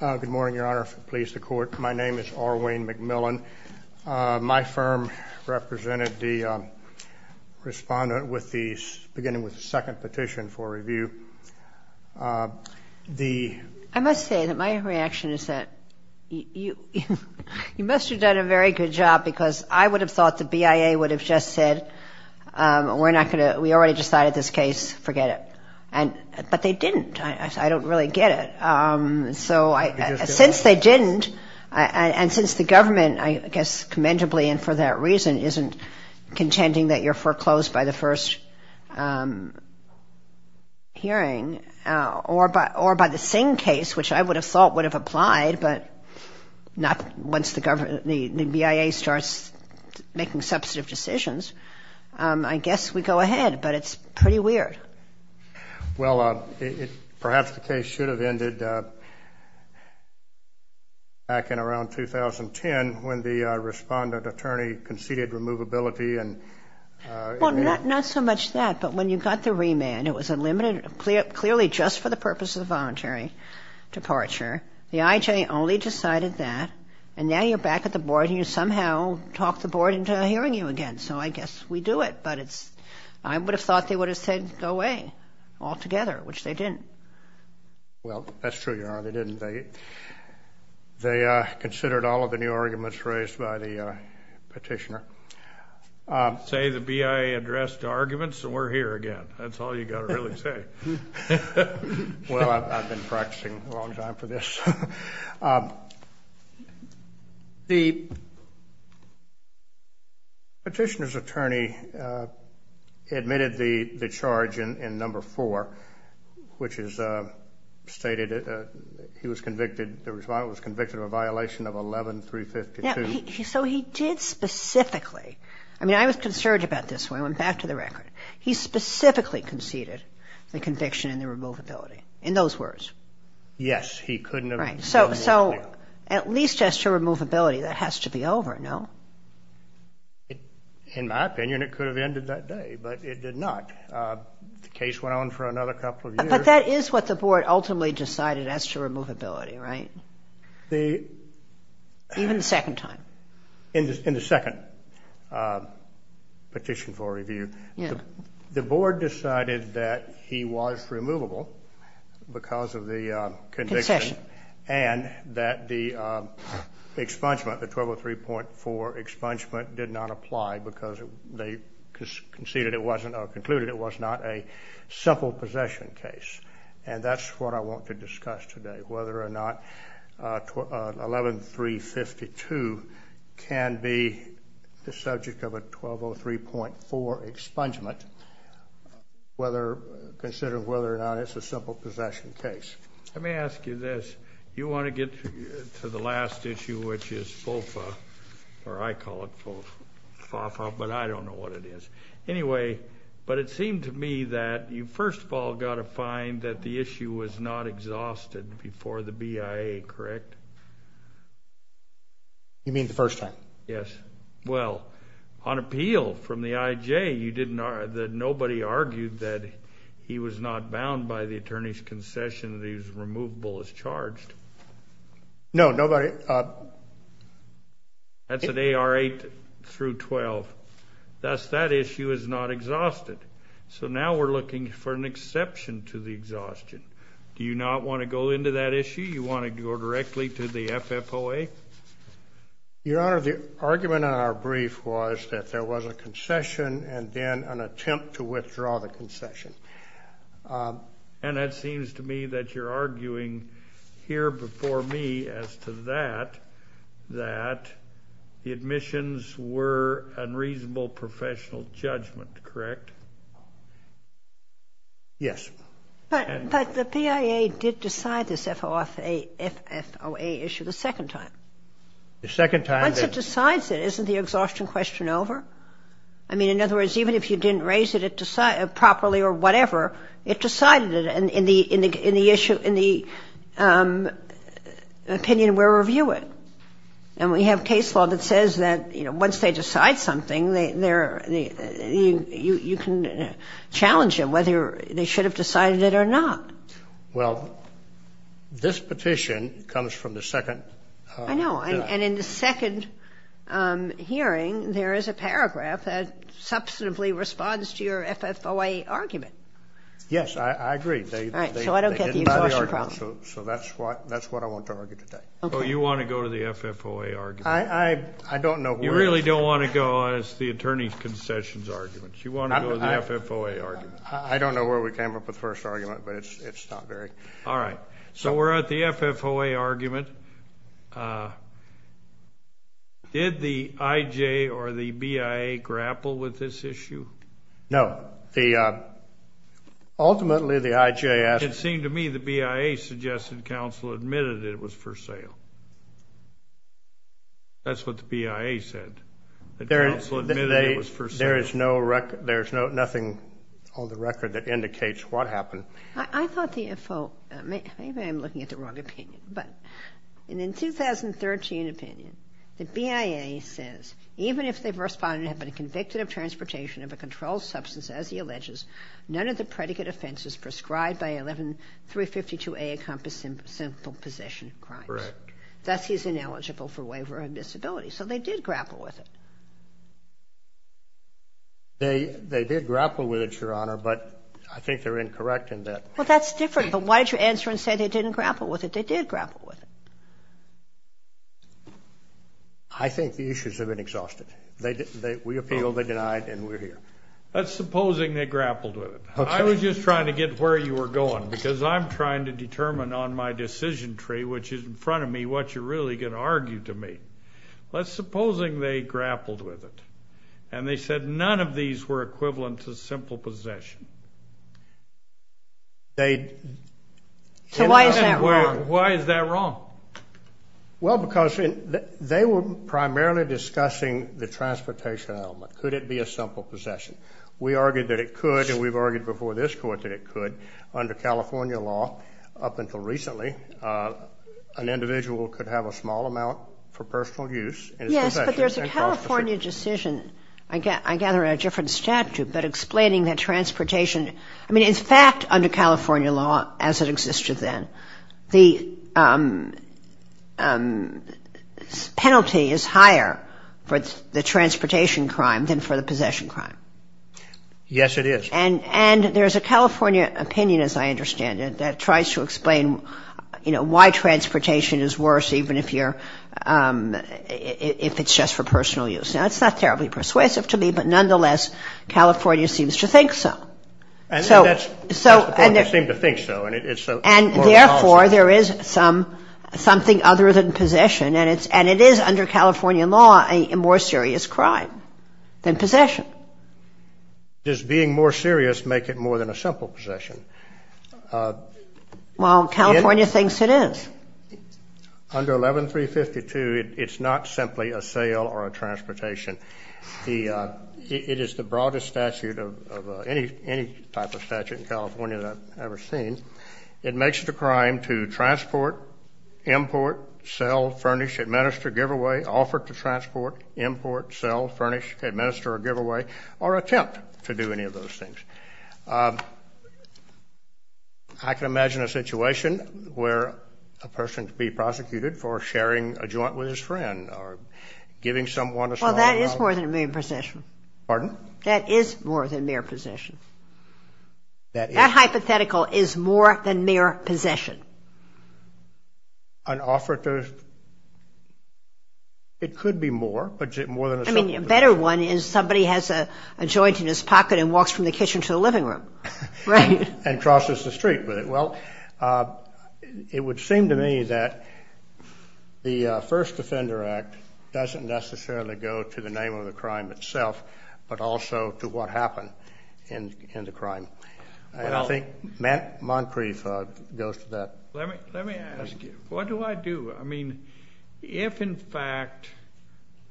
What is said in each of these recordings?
Good morning, Your Honor. Please, the Court. My name is R. Wayne McMillan. My firm represented the respondent with the beginning with the second petition for review. I must say that my reaction is that you must have done a very good job because I would have thought the BIA would have just said, we already decided this case, forget it. But they didn't. I don't really get it. Since they didn't and since the government, I guess commendably and for that reason, isn't contending that you're foreclosed by the first hearing or by the same case, which I would have thought would have applied, but not once the BIA starts making substantive decisions. I guess we go ahead, but it's pretty weird. Well, perhaps the case should have ended back in around 2010 when the respondent attorney conceded removability. Well, not so much that, but when you got the remand, it was clearly just for the purpose of the voluntary departure. The IJ only decided that, and now you're back at the Board and you somehow talked the Board into hearing you again. So I guess we do it, but I would have thought they would have said, go away, altogether, which they didn't. Well, that's true, Your Honor, they didn't. They considered all of the new arguments raised by the petitioner. Say the BIA addressed the arguments, and we're here again. That's all you've got to really say. Well, I've been practicing a long time for this. The petitioner's attorney admitted the charge in number four, which is stated he was convicted, the respondent was convicted of a violation of 11-352. So he did specifically, I mean, I was concerned about this when I went back to the record. He specifically conceded the conviction and the removability, in those words. Yes, he couldn't have been more clear. So at least as to removability, that has to be over, no? In my opinion, it could have ended that day, but it did not. The case went on for another couple of years. But that is what the Board ultimately decided as to removability, right? Even the second time. In the second petition for review, the Board decided that he was removable because of the conviction. Concession. And that the expungement, the 1203.4 expungement, did not apply because they conceded it wasn't or concluded it was not a simple possession case. And that's what I want to discuss today, whether or not 11-352 can be the subject of a 1203.4 expungement, whether considered whether or not it's a simple possession case. Let me ask you this. You want to get to the last issue, which is FOFA, or I call it FOFA, but I don't know what it is. Anyway, but it seemed to me that you first of all got to find that the issue was not exhausted before the BIA, correct? You mean the first time? Yes. Well, on appeal from the IJ, nobody argued that he was not bound by the attorney's concession that he was removable as charged. No, nobody. That's an AR 8 through 12. That's that issue is not exhausted. So now we're looking for an exception to the exhaustion. Do you not want to go into that issue? You want to go directly to the FFOA? Your Honor, the argument in our brief was that there was a concession and then an attempt to withdraw the concession. And it seems to me that you're arguing here before me as to that, that the admissions were unreasonable professional judgment, correct? Yes. But the BIA did decide this FFOA issue the second time. The second time. Once it decides it, isn't the exhaustion question over? I mean, in other words, even if you didn't raise it properly or whatever, it decided it in the opinion we're reviewing. And we have case law that says that, you know, once they decide something, you can challenge them whether they should have decided it or not. Well, this petition comes from the second. I know. And in the second hearing, there is a paragraph that substantively responds to your FFOA argument. Yes, I agree. All right. So I don't get the exhaustion problem. So that's what I want to argue today. So you want to go to the FFOA argument? I don't know. You really don't want to go as the attorney's concessions argument? You want to go to the FFOA argument? I don't know where we came up with the first argument, but it's not very. All right. So we're at the FFOA argument. Did the IJ or the BIA grapple with this issue? No. Ultimately, the IJ asked. It seemed to me the BIA suggested counsel admitted it was for sale. That's what the BIA said, that counsel admitted it was for sale. There is nothing on the record that indicates what happened. I thought the FFOA – maybe I'm looking at the wrong opinion. But in the 2013 opinion, the BIA says, even if the respondent had been convicted of transportation of a controlled substance, as he alleges, none of the predicate offenses prescribed by 11352A encompass simple possession of crimes. Correct. Thus, he is ineligible for waiver of disability. So they did grapple with it. They did grapple with it, Your Honor. But I think they're incorrect in that. Well, that's different. But why did you answer and say they didn't grapple with it? They did grapple with it. I think the issues have been exhausted. We appealed, they denied, and we're here. Let's supposing they grappled with it. Okay. I was just trying to get where you were going because I'm trying to determine on my decision tree, which is in front of me, what you're really going to argue to me. Let's supposing they grappled with it. And they said none of these were equivalent to simple possession. So why is that wrong? Why is that wrong? Well, because they were primarily discussing the transportation element. Could it be a simple possession? We argued that it could, and we've argued before this Court that it could. Under California law, up until recently, an individual could have a small amount for personal use. Yes, but there's a California decision, I gather in a different statute, but explaining that transportation – I mean, in fact, under California law, as it existed then, the penalty is higher for the transportation crime than for the possession crime. Yes, it is. And there's a California opinion, as I understand it, that tries to explain, you know, why transportation is worse even if you're – if it's just for personal use. Now, it's not terribly persuasive to me, but nonetheless, California seems to think so. And that's the point. They seem to think so, and it's a moral policy. And therefore, there is something other than possession, and it is under California law a more serious crime than possession. Does being more serious make it more than a simple possession? Well, California thinks it is. Under 11352, it's not simply a sale or a transportation. It is the broadest statute of any type of statute in California that I've ever seen. It makes it a crime to transport, import, sell, furnish, administer, give away, offer to transport, import, sell, furnish, administer, give away, or attempt to do any of those things. I can imagine a situation where a person could be prosecuted for sharing a joint with his friend or giving someone a small amount. Well, that is more than mere possession. Pardon? That is more than mere possession. That hypothetical is more than mere possession. An offer to, it could be more, but more than a simple possession. I mean, a better one is somebody has a joint in his pocket and walks from the kitchen to the living room. Right. And crosses the street with it. Well, it would seem to me that the First Defender Act doesn't necessarily go to the name of the crime itself, but also to what happened in the crime. I don't think Moncrief goes to that. Let me ask you, what do I do? I mean, if, in fact,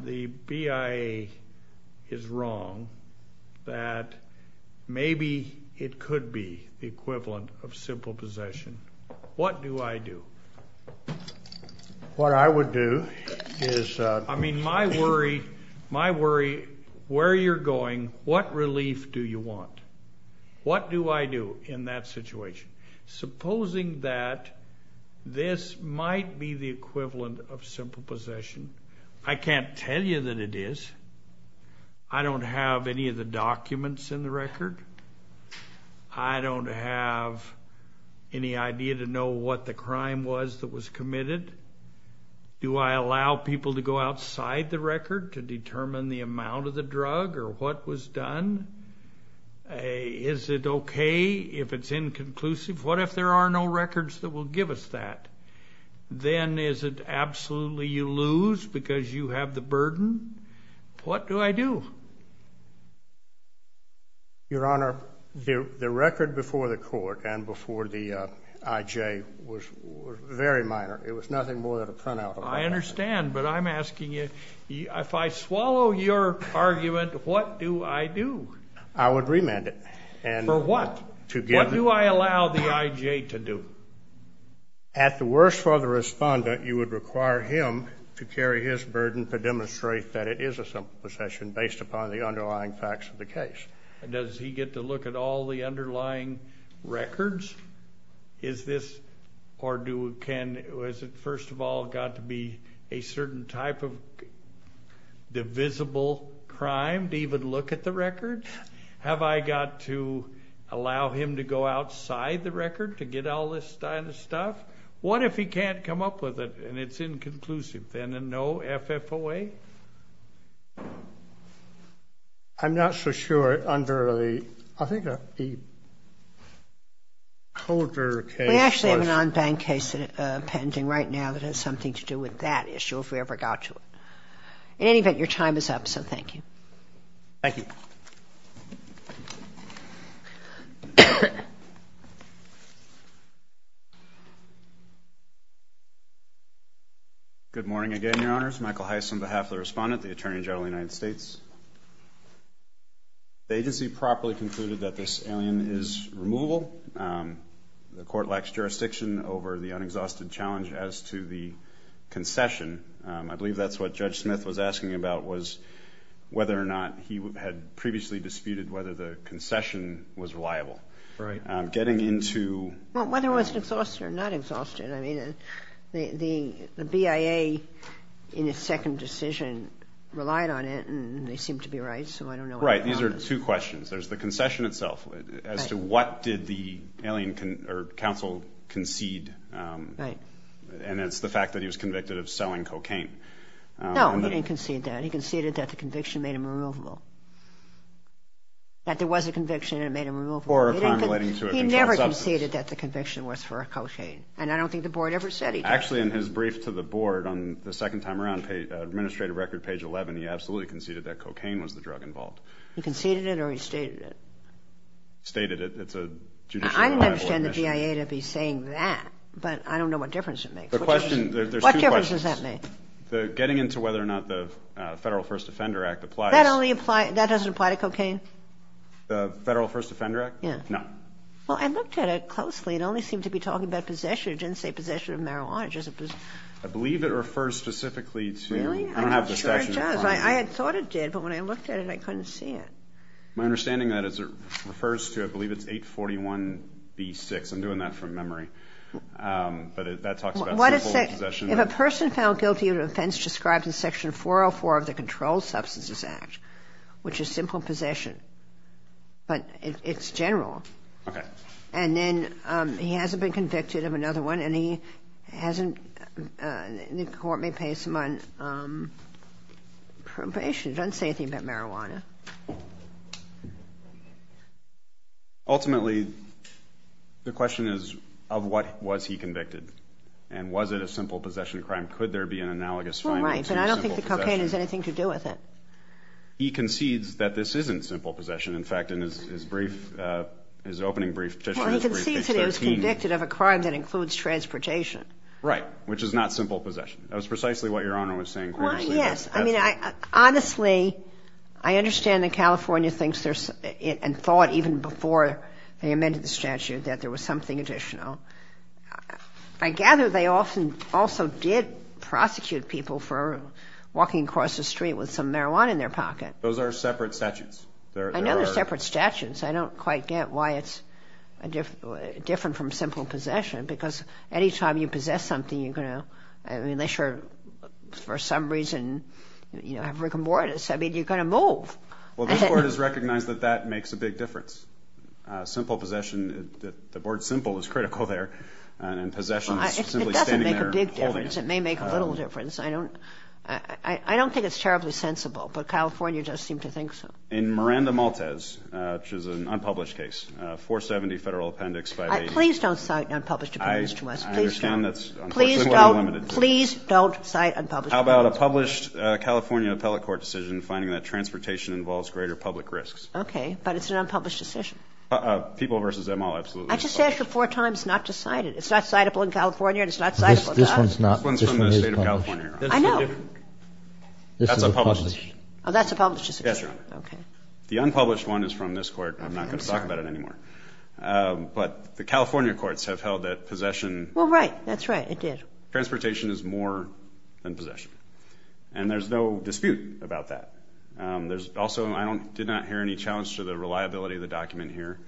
the BIA is wrong that maybe it could be the equivalent of simple possession, what do I do? What I would do is... What do I do in that situation? Supposing that this might be the equivalent of simple possession. I can't tell you that it is. I don't have any of the documents in the record. I don't have any idea to know what the crime was that was committed. Do I allow people to go outside the record to determine the amount of the drug or what was done? Is it okay if it's inconclusive? What if there are no records that will give us that? Then is it absolutely you lose because you have the burden? What do I do? Your Honor, the record before the court and before the IJ was very minor. It was nothing more than a printout. I understand, but I'm asking you. If I swallow your argument, what do I do? I would remand it. For what? What do I allow the IJ to do? At the worst for the respondent, you would require him to carry his burden to demonstrate that it is a simple possession based upon the underlying facts of the case. Does he get to look at all the underlying records? Is this or was it first of all got to be a certain type of divisible crime to even look at the record? Have I got to allow him to go outside the record to get all this kind of stuff? What if he can't come up with it and it's inconclusive then and no FFOA? I'm not so sure under the, I think, the Colder case. We actually have an on-bank case pending right now that has something to do with that issue if we ever got to it. In any event, your time is up, so thank you. Thank you. Good morning again, Your Honors. Michael Heiss on behalf of the respondent, the Attorney General of the United States. The agency properly concluded that this alien is removable. The court lacks jurisdiction over the unexhausted challenge as to the concession. I believe that's what Judge Smith was asking about was whether or not he had previously disputed whether the concession was reliable. Right. Getting into- Well, whether it was exhausted or not exhausted. I mean, the BIA in its second decision relied on it and they seemed to be right, so I don't know- Right. These are two questions. There's the concession itself as to what did the alien counsel concede. Right. And it's the fact that he was convicted of selling cocaine. No, he didn't concede that. He conceded that the conviction made him removable. That there was a conviction and it made him removable. Or accumulating to a controlled substance. He never conceded that the conviction was for cocaine. And I don't think the board ever said he did. Actually, in his brief to the board on the second time around, administrative record page 11, he absolutely conceded that cocaine was the drug involved. He conceded it or he stated it? Stated it. It's a judicial- I understand the BIA to be saying that, but I don't know what difference it makes. The question- What difference does that make? Getting into whether or not the Federal First Offender Act applies- That doesn't apply to cocaine? The Federal First Offender Act? Yeah. No. Well, I looked at it closely. It only seemed to be talking about possession. It didn't say possession of marijuana. I believe it refers specifically to- Really? I'm not sure it does. I thought it did, but when I looked at it, I couldn't see it. My understanding of that is it refers to, I believe it's 841B6. I'm doing that from memory. But that talks about simple possession. If a person found guilty of an offense described in Section 404 of the Controlled Substances Act, which is simple possession, but it's general. Okay. And then he hasn't been convicted of another one, and he hasn't- the court may pass him on probation. It doesn't say anything about marijuana. Ultimately, the question is, of what was he convicted? And was it a simple possession crime? Could there be an analogous finding to a simple possession? Right, but I don't think the cocaine has anything to do with it. He concedes that this isn't simple possession. In fact, in his brief, his opening brief petition- Well, he concedes that he was convicted of a crime that includes transportation. Right, which is not simple possession. That was precisely what Your Honor was saying previously. Well, yes. I mean, honestly, I understand that California thinks and thought, even before they amended the statute, that there was something additional. I gather they also did prosecute people for walking across the street with some marijuana in their pocket. Those are separate statutes. I know they're separate statutes. I don't quite get why it's different from simple possession, because any time you possess something, you're going to- I mean, they sure, for some reason, have rigor mortis. I mean, you're going to move. Well, this Court has recognized that that makes a big difference. Simple possession, the word simple is critical there, and possessions simply standing there- It doesn't make a big difference. It may make a little difference. I don't think it's terribly sensible, but California does seem to think so. In Miranda-Maltez, which is an unpublished case, 470 Federal Appendix 580- Please don't cite unpublished appeals to us. Please don't. Please don't cite unpublished appeals to us. How about a published California appellate court decision finding that transportation involves greater public risks? Okay, but it's an unpublished decision. People versus them all, absolutely. I just asked you four times not to cite it. It's not citable in California, and it's not citable to us. This one's not. This one's from the State of California, Your Honor. I know. That's a published decision. Oh, that's a published decision. Yes, Your Honor. Okay. The unpublished one is from this Court. I'm not going to talk about it anymore. But the California courts have held that possession- Well, right. That's right. It did. Transportation is more than possession, and there's no dispute about that. Also, I did not hear any challenge to the reliability of the document here.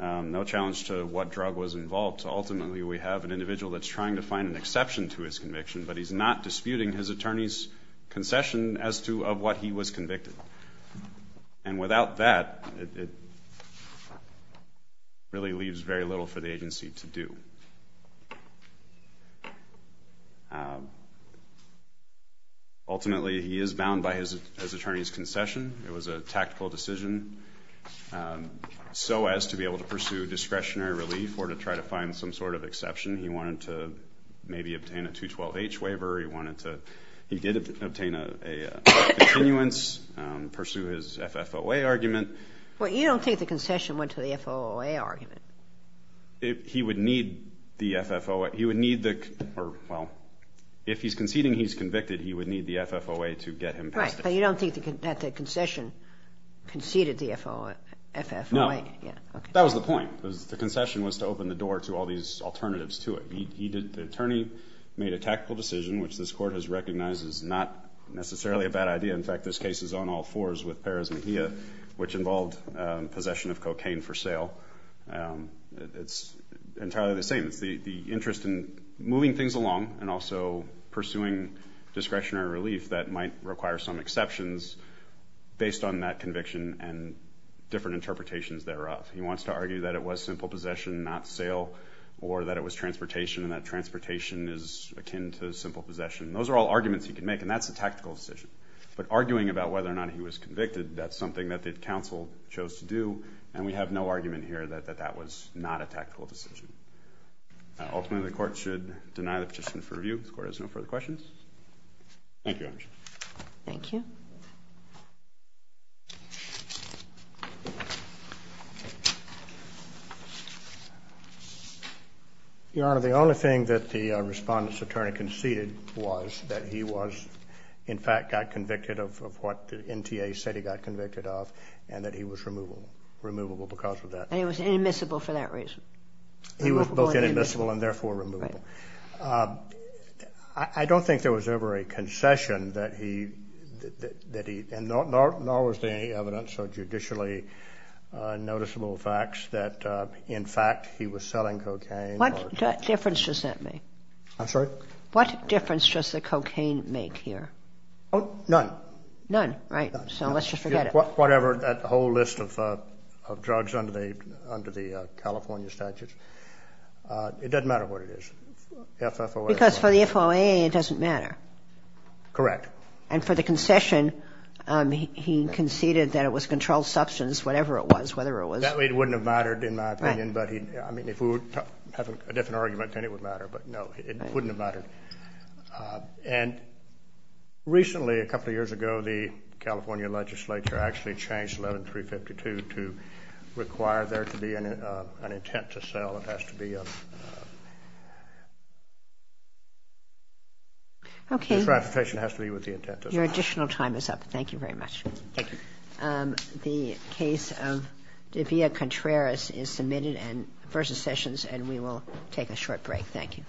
No challenge to what drug was involved. Ultimately, we have an individual that's trying to find an exception to his conviction, but he's not disputing his attorney's concession as to what he was convicted. And without that, it really leaves very little for the agency to do. Ultimately, he is bound by his attorney's concession. It was a tactical decision so as to be able to pursue discretionary relief or to try to find some sort of exception. He wanted to maybe obtain a 212H waiver. He did obtain a continuance, pursue his FFOA argument. Well, you don't think the concession went to the FFOA argument. He would need the FFOA. Well, if he's conceding he's convicted, he would need the FFOA to get him past it. Right, but you don't think that the concession conceded the FFOA. No. That was the point. The concession was to open the door to all these alternatives to it. The attorney made a tactical decision, which this court has recognized is not necessarily a bad idea. In fact, this case is on all fours with Perez Mejia, which involved possession of cocaine for sale. It's entirely the same. It's the interest in moving things along and also pursuing discretionary relief that might require some exceptions based on that conviction and different interpretations thereof. He wants to argue that it was simple possession, not sale, or that it was transportation and that transportation is akin to simple possession. Those are all arguments he can make, and that's a tactical decision. But arguing about whether or not he was convicted, that's something that the counsel chose to do, and we have no argument here that that was not a tactical decision. Ultimately, the court should deny the petition for review. The court has no further questions. Thank you, Your Honor. Thank you. Your Honor, the only thing that the respondent's attorney conceded was that he was, in fact, got convicted of what the NTA said he got convicted of and that he was removable because of that. And he was inadmissible for that reason? He was both inadmissible and therefore removable. I don't think there was ever a concession that he, nor was there any evidence or judicially noticeable facts that, in fact, he was selling cocaine. What difference does that make? I'm sorry? What difference does the cocaine make here? None. None, right. None. So let's just forget it. Whatever, that whole list of drugs under the California statutes, it doesn't matter what it is. Because for the FOA, it doesn't matter. Correct. And for the concession, he conceded that it was controlled substance, whatever it was, whether it was. It wouldn't have mattered, in my opinion. Right. I mean, if we were having a different argument, then it would matter. But, no, it wouldn't have mattered. And recently, a couple of years ago, the California legislature actually changed 11352 to require there to be an intent to sell. It has to be a transportation that has to be with the intent to sell. Your additional time is up. Thank you very much. Thank you. The case of Devia Contreras is submitted versus Sessions, and we will take a short break. Thank you.